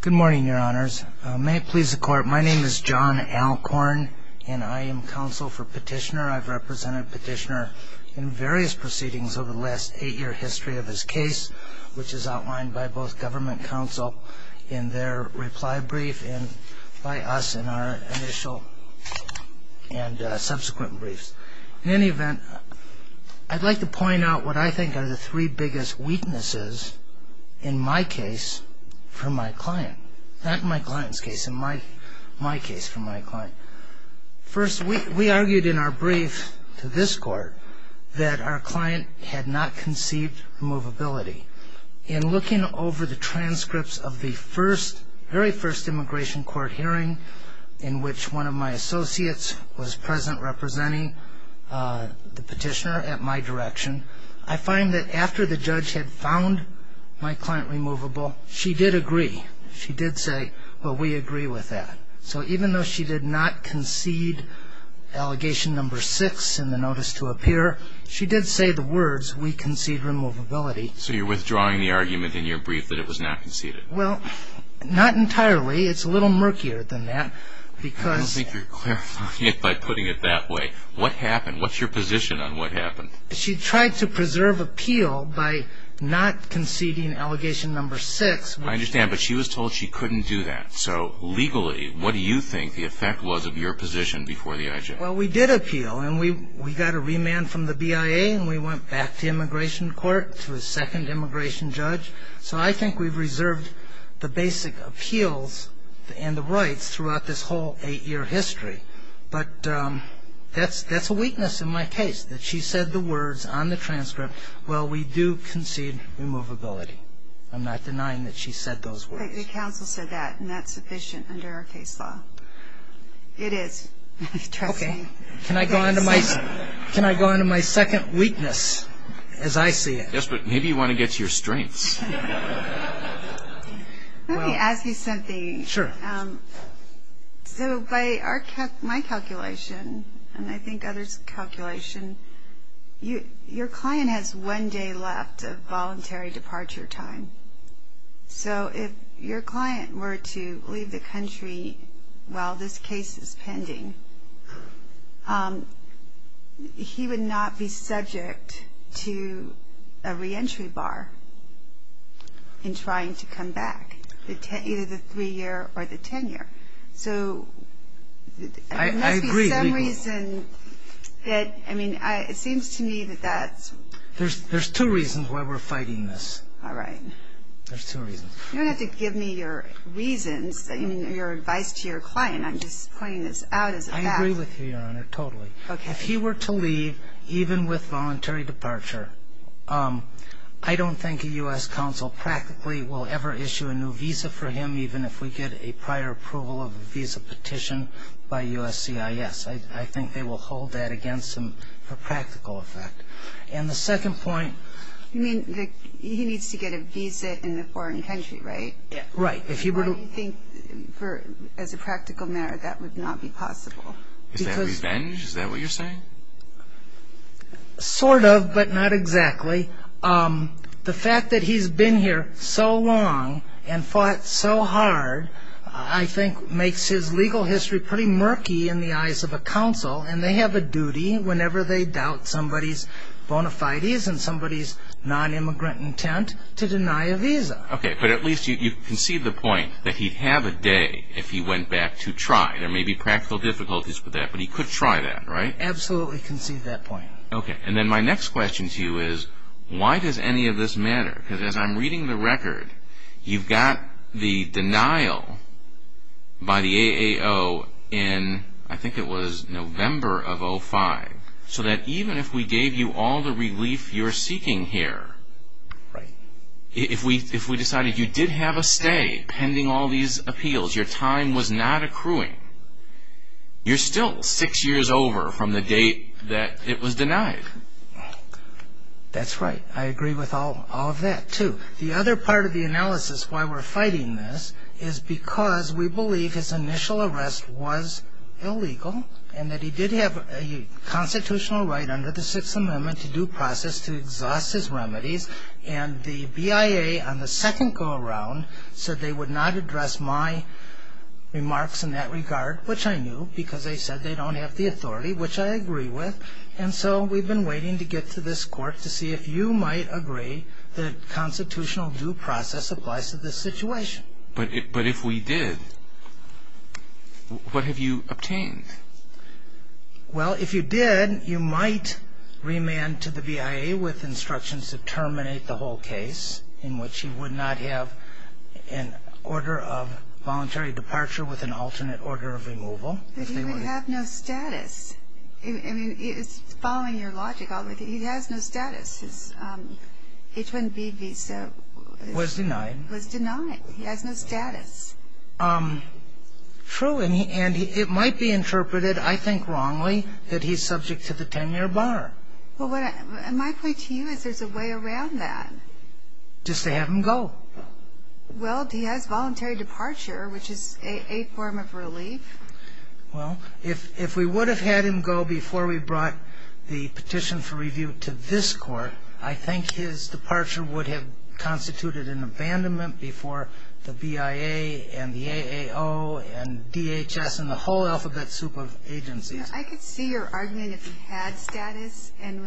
Good morning, your honors. May it please the court, my name is John Alcorn and I am counsel for Petitioner. I've represented Petitioner in various proceedings over the last eight year history of his case, which is outlined by both government counsel in their reply brief and by us in our initial and subsequent briefs. In any event, I'd like to point out what I think are the three biggest weaknesses in my case for my client. Not in my client's case, in my case for my client. First, we argued in our brief to this court that our client had not conceived removability. In looking over the transcripts of the very first immigration court hearing in which one of my associates was present representing the petitioner at my direction, I find that after the judge had found my client removable, she did agree. She did say, well, we agree with that. So even though she did not concede allegation number six in the notice to appear, she did say the words, we concede removability. So you're withdrawing the argument in your brief that it was not conceded? Well, not entirely. It's a little murkier than that. I don't think you're clarifying it by putting it that way. What happened? What's your position on what happened? She tried to preserve appeal by not conceding allegation number six. I understand, but she was told she couldn't do that. So legally, what do you think the effect was of your position before the IJ? Well, we did appeal, and we got a remand from the BIA, and we went back to immigration court to a second immigration judge. So I think we've reserved the basic appeals and the rights throughout this whole eight-year history. But that's a weakness in my case, that she said the words on the transcript, well, we do concede removability. I'm not denying that she said those words. The counsel said that, and that's sufficient under our case law. It is, trust me. Can I go on to my second weakness as I see it? Yes, but maybe you want to get to your strengths. Let me ask you something. Sure. So by my calculation, and I think others' calculation, your client has one day left of voluntary departure time. So if your client were to leave the country while this case is pending, he would not be subject to a reentry bar in trying to come back, either the three-year or the ten-year. So there must be some reason that, I mean, it seems to me that that's... There's two reasons why we're fighting this. All right. There's two reasons. You don't have to give me your reasons, I mean, your advice to your client. I'm just pointing this out as a fact. I agree with you, Your Honor, totally. Okay. If he were to leave, even with voluntary departure, I don't think a U.S. counsel practically will ever issue a new visa for him, even if we get a prior approval of a visa petition by USCIS. I think they will hold that against him for practical effect. And the second point... You mean he needs to get a visa in a foreign country, right? Right. Why do you think, as a practical matter, that would not be possible? Is that revenge? Is that what you're saying? Sort of, but not exactly. The fact that he's been here so long and fought so hard, I think, makes his legal history pretty murky in the eyes of a counsel, and they have a duty, whenever they doubt somebody's bona fides and somebody's non-immigrant intent, to deny a visa. Okay. But at least you concede the point that he'd have a day, if he went back, to try. There may be practical difficulties with that, but he could try that, right? Absolutely concede that point. Okay. And then my next question to you is, why does any of this matter? Because as I'm reading the record, you've got the denial by the AAO in, I think it was November of 2005, so that even if we gave you all the relief you're seeking here, if we decided you did have a stay pending all these appeals, your time was not accruing, you're still six years over from the date that it was denied. That's right. I agree with all of that, too. The other part of the analysis why we're fighting this is because we believe his initial arrest was illegal, and that he did have a constitutional right under the Sixth Amendment to due process to exhaust his remedies, and the BIA on the second go-around said they would not address my remarks in that regard, which I knew, because they said they don't have the authority, which I agree with. And so we've been waiting to get to this court to see if you might agree that constitutional due process applies to this situation. But if we did, what have you obtained? Well, if you did, you might remand to the BIA with instructions to terminate the whole case, in which he would not have an order of voluntary departure with an alternate order of removal. But he would have no status. I mean, following your logic, he has no status. His H-1B visa was denied. Was denied. He has no status. True. And it might be interpreted, I think, wrongly that he's subject to the 10-year bar. Well, my point to you is there's a way around that. Just to have him go. Well, he has voluntary departure, which is a form of relief. Well, if we would have had him go before we brought the petition for review to this court, I think his departure would have constituted an abandonment before the BIA and the AAO and DHS and the whole alphabet soup of agencies. I could see your argument if he had status and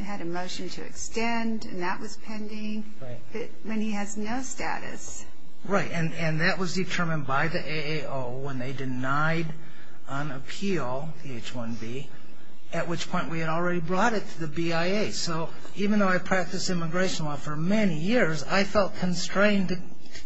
had a motion to extend, and that was pending. Right. When he has no status. Right. And that was determined by the AAO when they denied on appeal the H-1B, at which point we had already brought it to the BIA. So even though I practiced immigration law for many years, I felt constrained to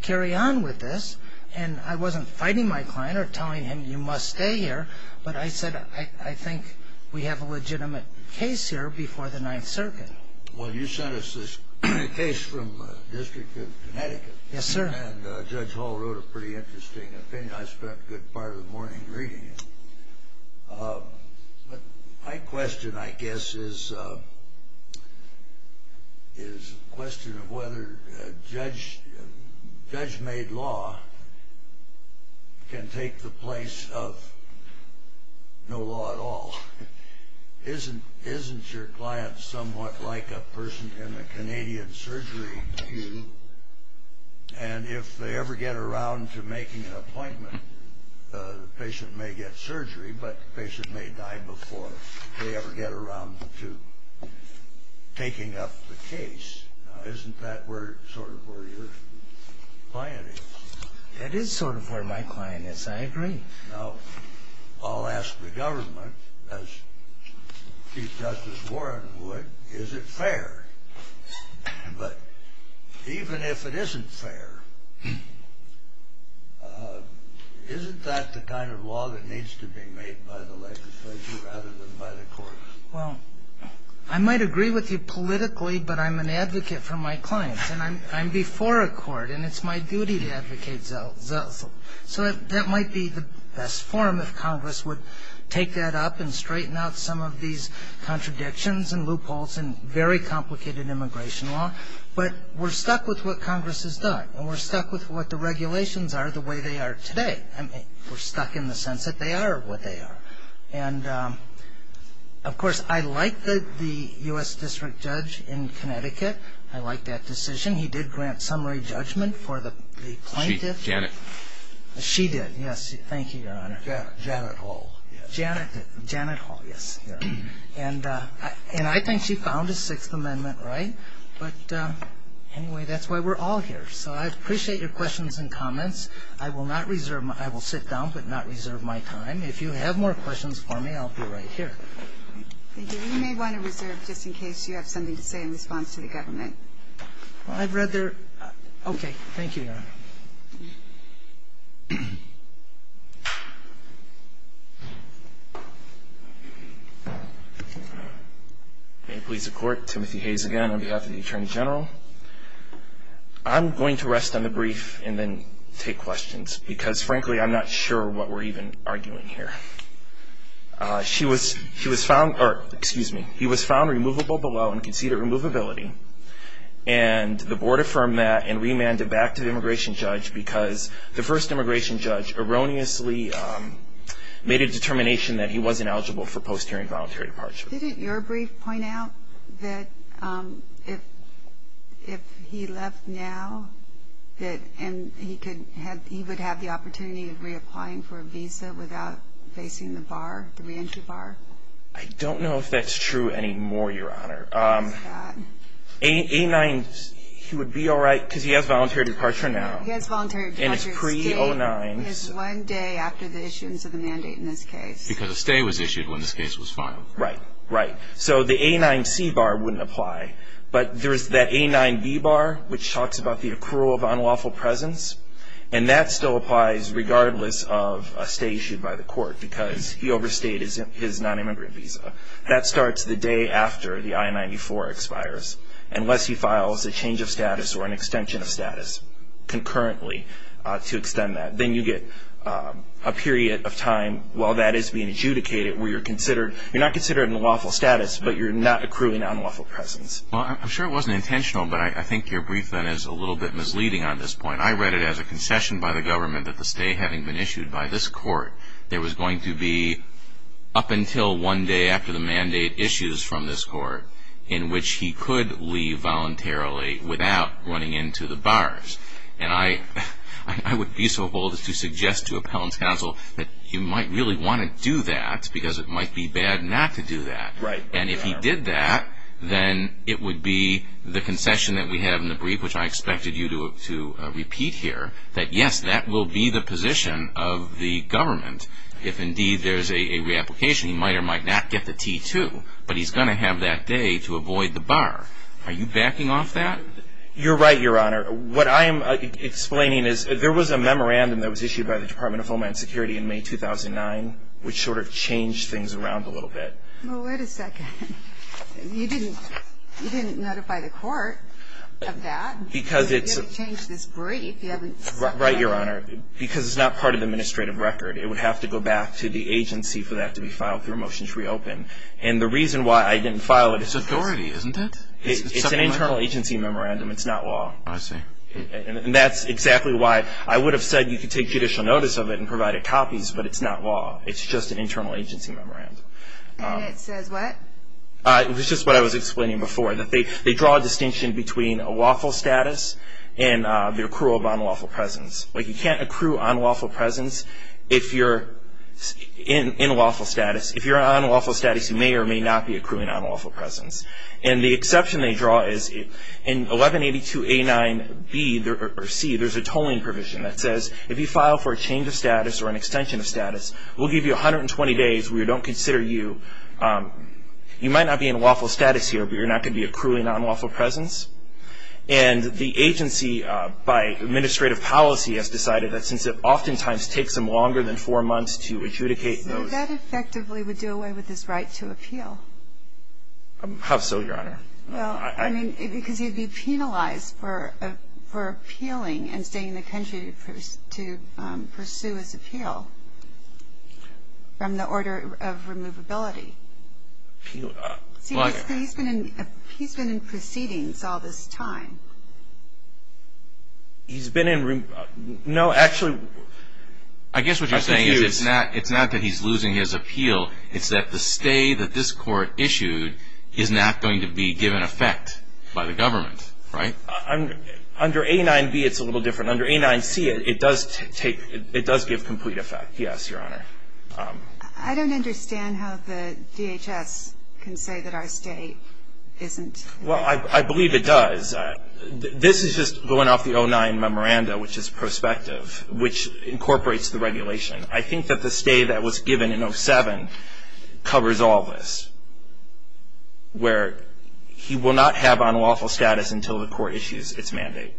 carry on with this, and I wasn't fighting my client or telling him you must stay here, but I said I think we have a legitimate case here before the Ninth Circuit. Well, you sent us this case from the District of Connecticut. Yes, sir. And Judge Hall wrote a pretty interesting opinion. I spent a good part of the morning reading it. My question, I guess, is a question of whether judge-made law can take the place of no law at all. Isn't your client somewhat like a person in a Canadian surgery? And if they ever get around to making an appointment, the patient may get surgery, but the patient may die before they ever get around to taking up the case. Isn't that sort of where your client is? It is sort of where my client is. I agree. Now, I'll ask the government, as Chief Justice Warren would, is it fair? But even if it isn't fair, isn't that the kind of law that needs to be made by the legislature rather than by the court? Well, I might agree with you politically, but I'm an advocate for my clients, and I'm before a court, and it's my duty to advocate. So that might be the best form if Congress would take that up and straighten out some of these contradictions and loopholes in very complicated immigration law. But we're stuck with what Congress has done, and we're stuck with what the regulations are the way they are today. We're stuck in the sense that they are what they are. And, of course, I like the U.S. District Judge in Connecticut. I like that decision. He did grant summary judgment for the plaintiff. Janet. She did, yes. Thank you, Your Honor. Janet Hall. Janet did. Janet Hall, yes. And I think she found the Sixth Amendment right. But anyway, that's why we're all here. So I appreciate your questions and comments. I will not reserve my – I will sit down but not reserve my time. If you have more questions for me, I'll be right here. Thank you. You may want to reserve just in case you have something to say in response to the government. I'd rather – okay. Thank you, Your Honor. May it please the Court. Timothy Hayes again on behalf of the Attorney General. I'm going to rest on the brief and then take questions because, frankly, I'm not sure what we're even arguing here. She was – he was found – or, excuse me. He was found removable below and conceded removability. And the Board affirmed that and remanded back to the immigration judge because the first immigration judge erroneously made a determination that he wasn't eligible for post-hearing voluntary departure. Didn't your brief point out that if he left now that – he would have the opportunity of reapplying for a visa without facing the bar, the reentry bar? I don't know if that's true anymore, Your Honor. A-9 – he would be all right because he has voluntary departure now. He has voluntary departure. And it's pre-09. He has one day after the issuance of the mandate in this case. Because a stay was issued when this case was filed. Right. Right. So the A-9C bar wouldn't apply. But there's that A-9B bar which talks about the accrual of unlawful presence. And that still applies regardless of a stay issued by the court because he overstayed his non-immigrant visa. That starts the day after the I-94 expires unless he files a change of status or an extension of status concurrently to extend that. Then you get a period of time while that is being adjudicated where you're considered – Well, I'm sure it wasn't intentional, but I think your brief then is a little bit misleading on this point. I read it as a concession by the government that the stay having been issued by this court, there was going to be up until one day after the mandate issues from this court in which he could leave voluntarily without running into the bars. And I would be so bold as to suggest to Appellant's Counsel that you might really want to do that because it might be bad not to do that. And if he did that, then it would be the concession that we have in the brief, which I expected you to repeat here, that yes, that will be the position of the government if indeed there's a reapplication. He might or might not get the T-2, but he's going to have that day to avoid the bar. Are you backing off that? You're right, Your Honor. What I am explaining is there was a memorandum that was issued by the Department of Homeland Security in May 2009 which sort of changed things around a little bit. Well, wait a second. You didn't notify the court of that? Because it's a... You haven't changed this brief. You haven't... Right, Your Honor. Because it's not part of the administrative record. It would have to go back to the agency for that to be filed through Motions Reopen. And the reason why I didn't file it is... It's authority, isn't it? It's an internal agency memorandum. It's not law. I see. And that's exactly why I would have said you could take judicial notice of it and provide it copies, but it's not law. It's just an internal agency memorandum. And it says what? It was just what I was explaining before, that they draw a distinction between unlawful status and the accrual of unlawful presence. Like, you can't accrue unlawful presence if you're in unlawful status. If you're in unlawful status, you may or may not be accruing unlawful presence. And the exception they draw is in 1182A9B or C, there's a tolling provision that says, if you file for a change of status or an extension of status, we'll give you 120 days. We don't consider you. You might not be in unlawful status here, but you're not going to be accruing unlawful presence. And the agency, by administrative policy, has decided that since it oftentimes takes them longer than four months to adjudicate those. So that effectively would do away with this right to appeal? How so, Your Honor? Well, I mean, because he'd be penalized for appealing and staying in the country to pursue his appeal from the order of removability. See, he's been in proceedings all this time. He's been in removability. No, actually. I guess what you're saying is it's not that he's losing his appeal. It's that the stay that this court issued is not going to be given effect by the government, right? Under A9B, it's a little different. Under A9C, it does give complete effect, yes, Your Honor. I don't understand how the DHS can say that our stay isn't. Well, I believe it does. This is just going off the 09 memoranda, which is prospective, which incorporates the regulation. I think that the stay that was given in 07 covers all this, where he will not have unlawful status until the court issues its mandate.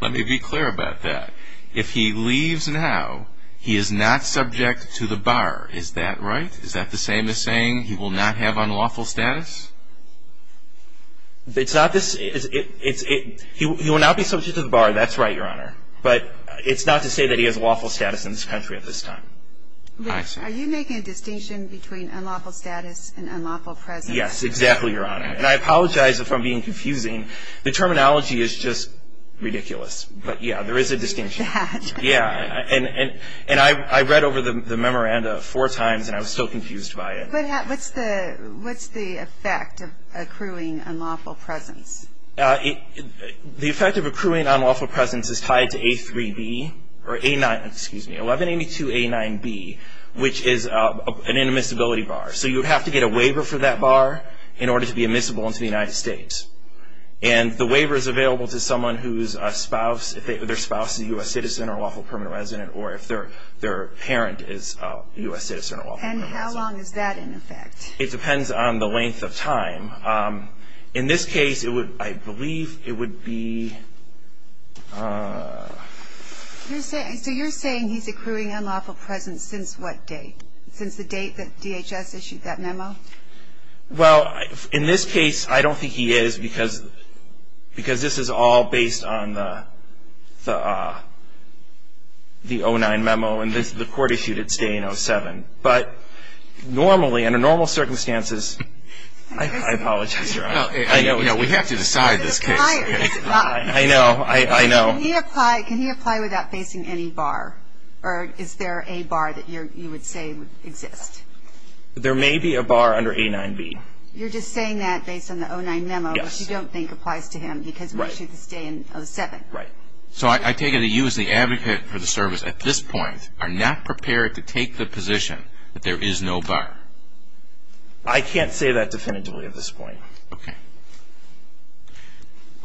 Let me be clear about that. If he leaves now, he is not subject to the bar. Is that right? Is that the same as saying he will not have unlawful status? It's not this. He will not be subject to the bar. No, that's right, Your Honor. But it's not to say that he has lawful status in this country at this time. Rich, are you making a distinction between unlawful status and unlawful presence? Yes, exactly, Your Honor. And I apologize if I'm being confusing. The terminology is just ridiculous. But, yeah, there is a distinction. Yeah, and I read over the memoranda four times, and I was still confused by it. But what's the effect of accruing unlawful presence? The effect of accruing unlawful presence is tied to A3B or A9, excuse me, 1182A9B, which is an immiscibility bar. So you have to get a waiver for that bar in order to be immiscible into the United States. And the waiver is available to someone whose spouse, if their spouse is a U.S. citizen or unlawful permanent resident, or if their parent is a U.S. citizen or unlawful permanent resident. And how long is that in effect? It depends on the length of time. In this case, I believe it would be... So you're saying he's accruing unlawful presence since what date? Since the date that DHS issued that memo? Well, in this case, I don't think he is because this is all based on the 09 memo, and the court issued its day in 07. But normally, under normal circumstances... I apologize, Your Honor. We have to decide this case. I know. I know. Can he apply without facing any bar? Or is there a bar that you would say would exist? There may be a bar under A9B. You're just saying that based on the 09 memo, which you don't think applies to him, because it was issued this day in 07. Right. So I take it that you as the advocate for the service at this point are not prepared to take the position that there is no bar. I can't say that definitively at this point. Okay.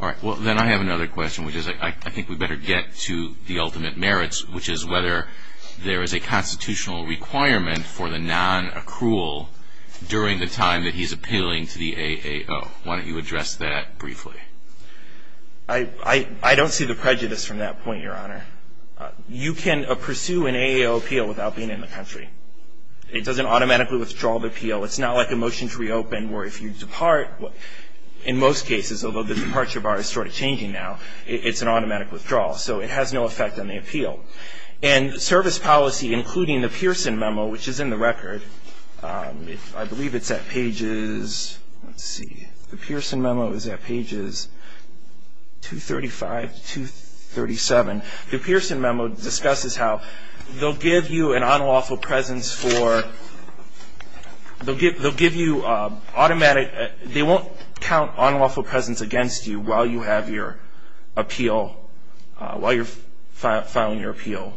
All right. Well, then I have another question, which is I think we better get to the ultimate merits, which is whether there is a constitutional requirement for the non-accrual during the time that he's appealing to the AAO. Why don't you address that briefly? I don't see the prejudice from that point, Your Honor. You can pursue an AAO appeal without being in the country. It doesn't automatically withdraw the appeal. It's not like a motion to reopen where if you depart, in most cases, although the departure bar is sort of changing now, it's an automatic withdrawal. So it has no effect on the appeal. And service policy, including the Pearson memo, which is in the record. I believe it's at pages, let's see, the Pearson memo is at pages 235 to 237. The Pearson memo discusses how they'll give you an unlawful presence for, they'll give you automatic, they won't count unlawful presence against you while you have your appeal, while you're filing your appeal.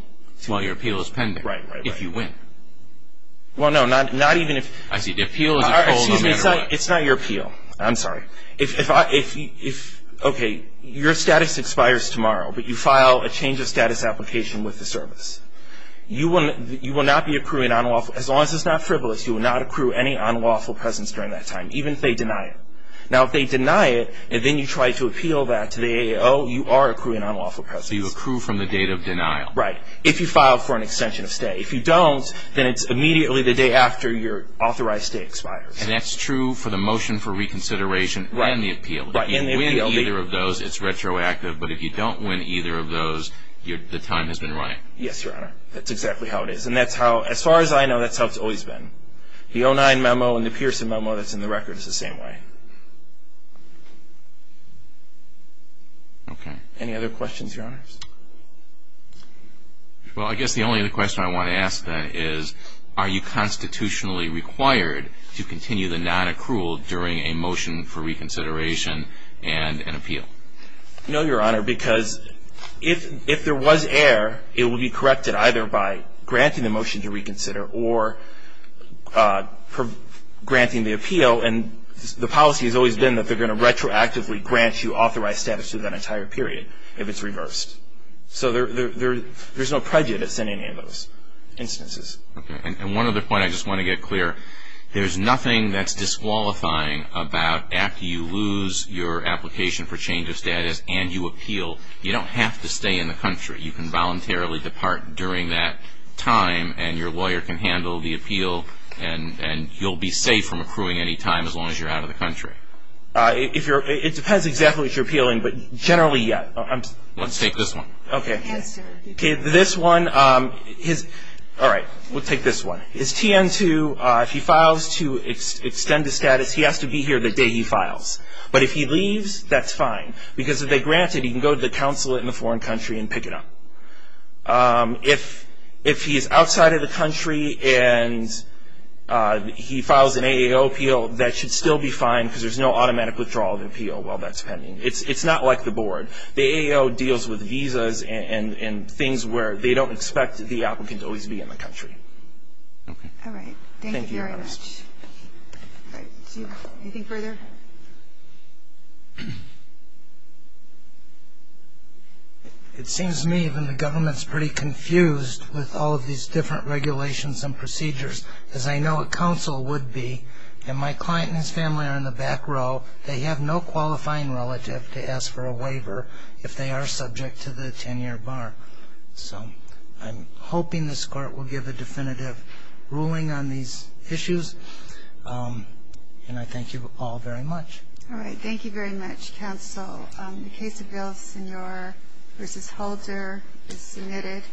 While your appeal is pending. Right, right, right. If you win. Well, no, not even if. I see. The appeal. Excuse me. It's not your appeal. I'm sorry. If, okay, your status expires tomorrow, but you file a change of status application with the service. You will not be accruing unlawful, as long as it's not frivolous, you will not accrue any unlawful presence during that time, even if they deny it. Now, if they deny it, and then you try to appeal that to the AAO, you are accruing unlawful presence. So you accrue from the date of denial. Right. If you file for an extension of stay. If you don't, then it's immediately the day after your authorized stay expires. And that's true for the motion for reconsideration and the appeal. Right, and the appeal. If you win either of those, it's retroactive. But if you don't win either of those, the time has been right. Yes, Your Honor. That's exactly how it is. And that's how, as far as I know, that's how it's always been. The 09 memo and the Pearson memo that's in the record is the same way. Okay. Any other questions, Your Honors? Well, I guess the only other question I want to ask then is, are you constitutionally required to continue the nonaccrual during a motion for reconsideration and an appeal? No, Your Honor, because if there was error, it would be corrected either by granting the motion to reconsider or granting the appeal. And the policy has always been that they're going to retroactively grant you authorized status through that entire period if it's reversed. So there's no prejudice in any of those instances. Okay. And one other point I just want to get clear. There's nothing that's disqualifying about after you lose your application for change of status and you appeal. You don't have to stay in the country. You can voluntarily depart during that time, and your lawyer can handle the appeal, and you'll be safe from accruing any time as long as you're out of the country. It depends exactly if you're appealing, but generally, yes. Let's take this one. Okay. This one. All right. We'll take this one. Is TN-2, if he files to extend the status, he has to be here the day he files. But if he leaves, that's fine because if they grant it, he can go to the consulate in a foreign country and pick it up. If he's outside of the country and he files an AAO appeal, that should still be fine because there's no automatic withdrawal of appeal while that's pending. It's not like the board. The AAO deals with visas and things where they don't expect the applicant to always be in the country. All right. Thank you very much. Do you have anything further? It seems to me that the government's pretty confused with all of these different regulations and procedures, as I know a counsel would be, and my client and his family are in the back row. They have no qualifying relative to ask for a waiver if they are subject to the 10-year bar. So I'm hoping this court will give a definitive ruling on these issues, and I thank you all very much. All right. Thank you very much, counsel. The case of Villasenor v. Holder is submitted.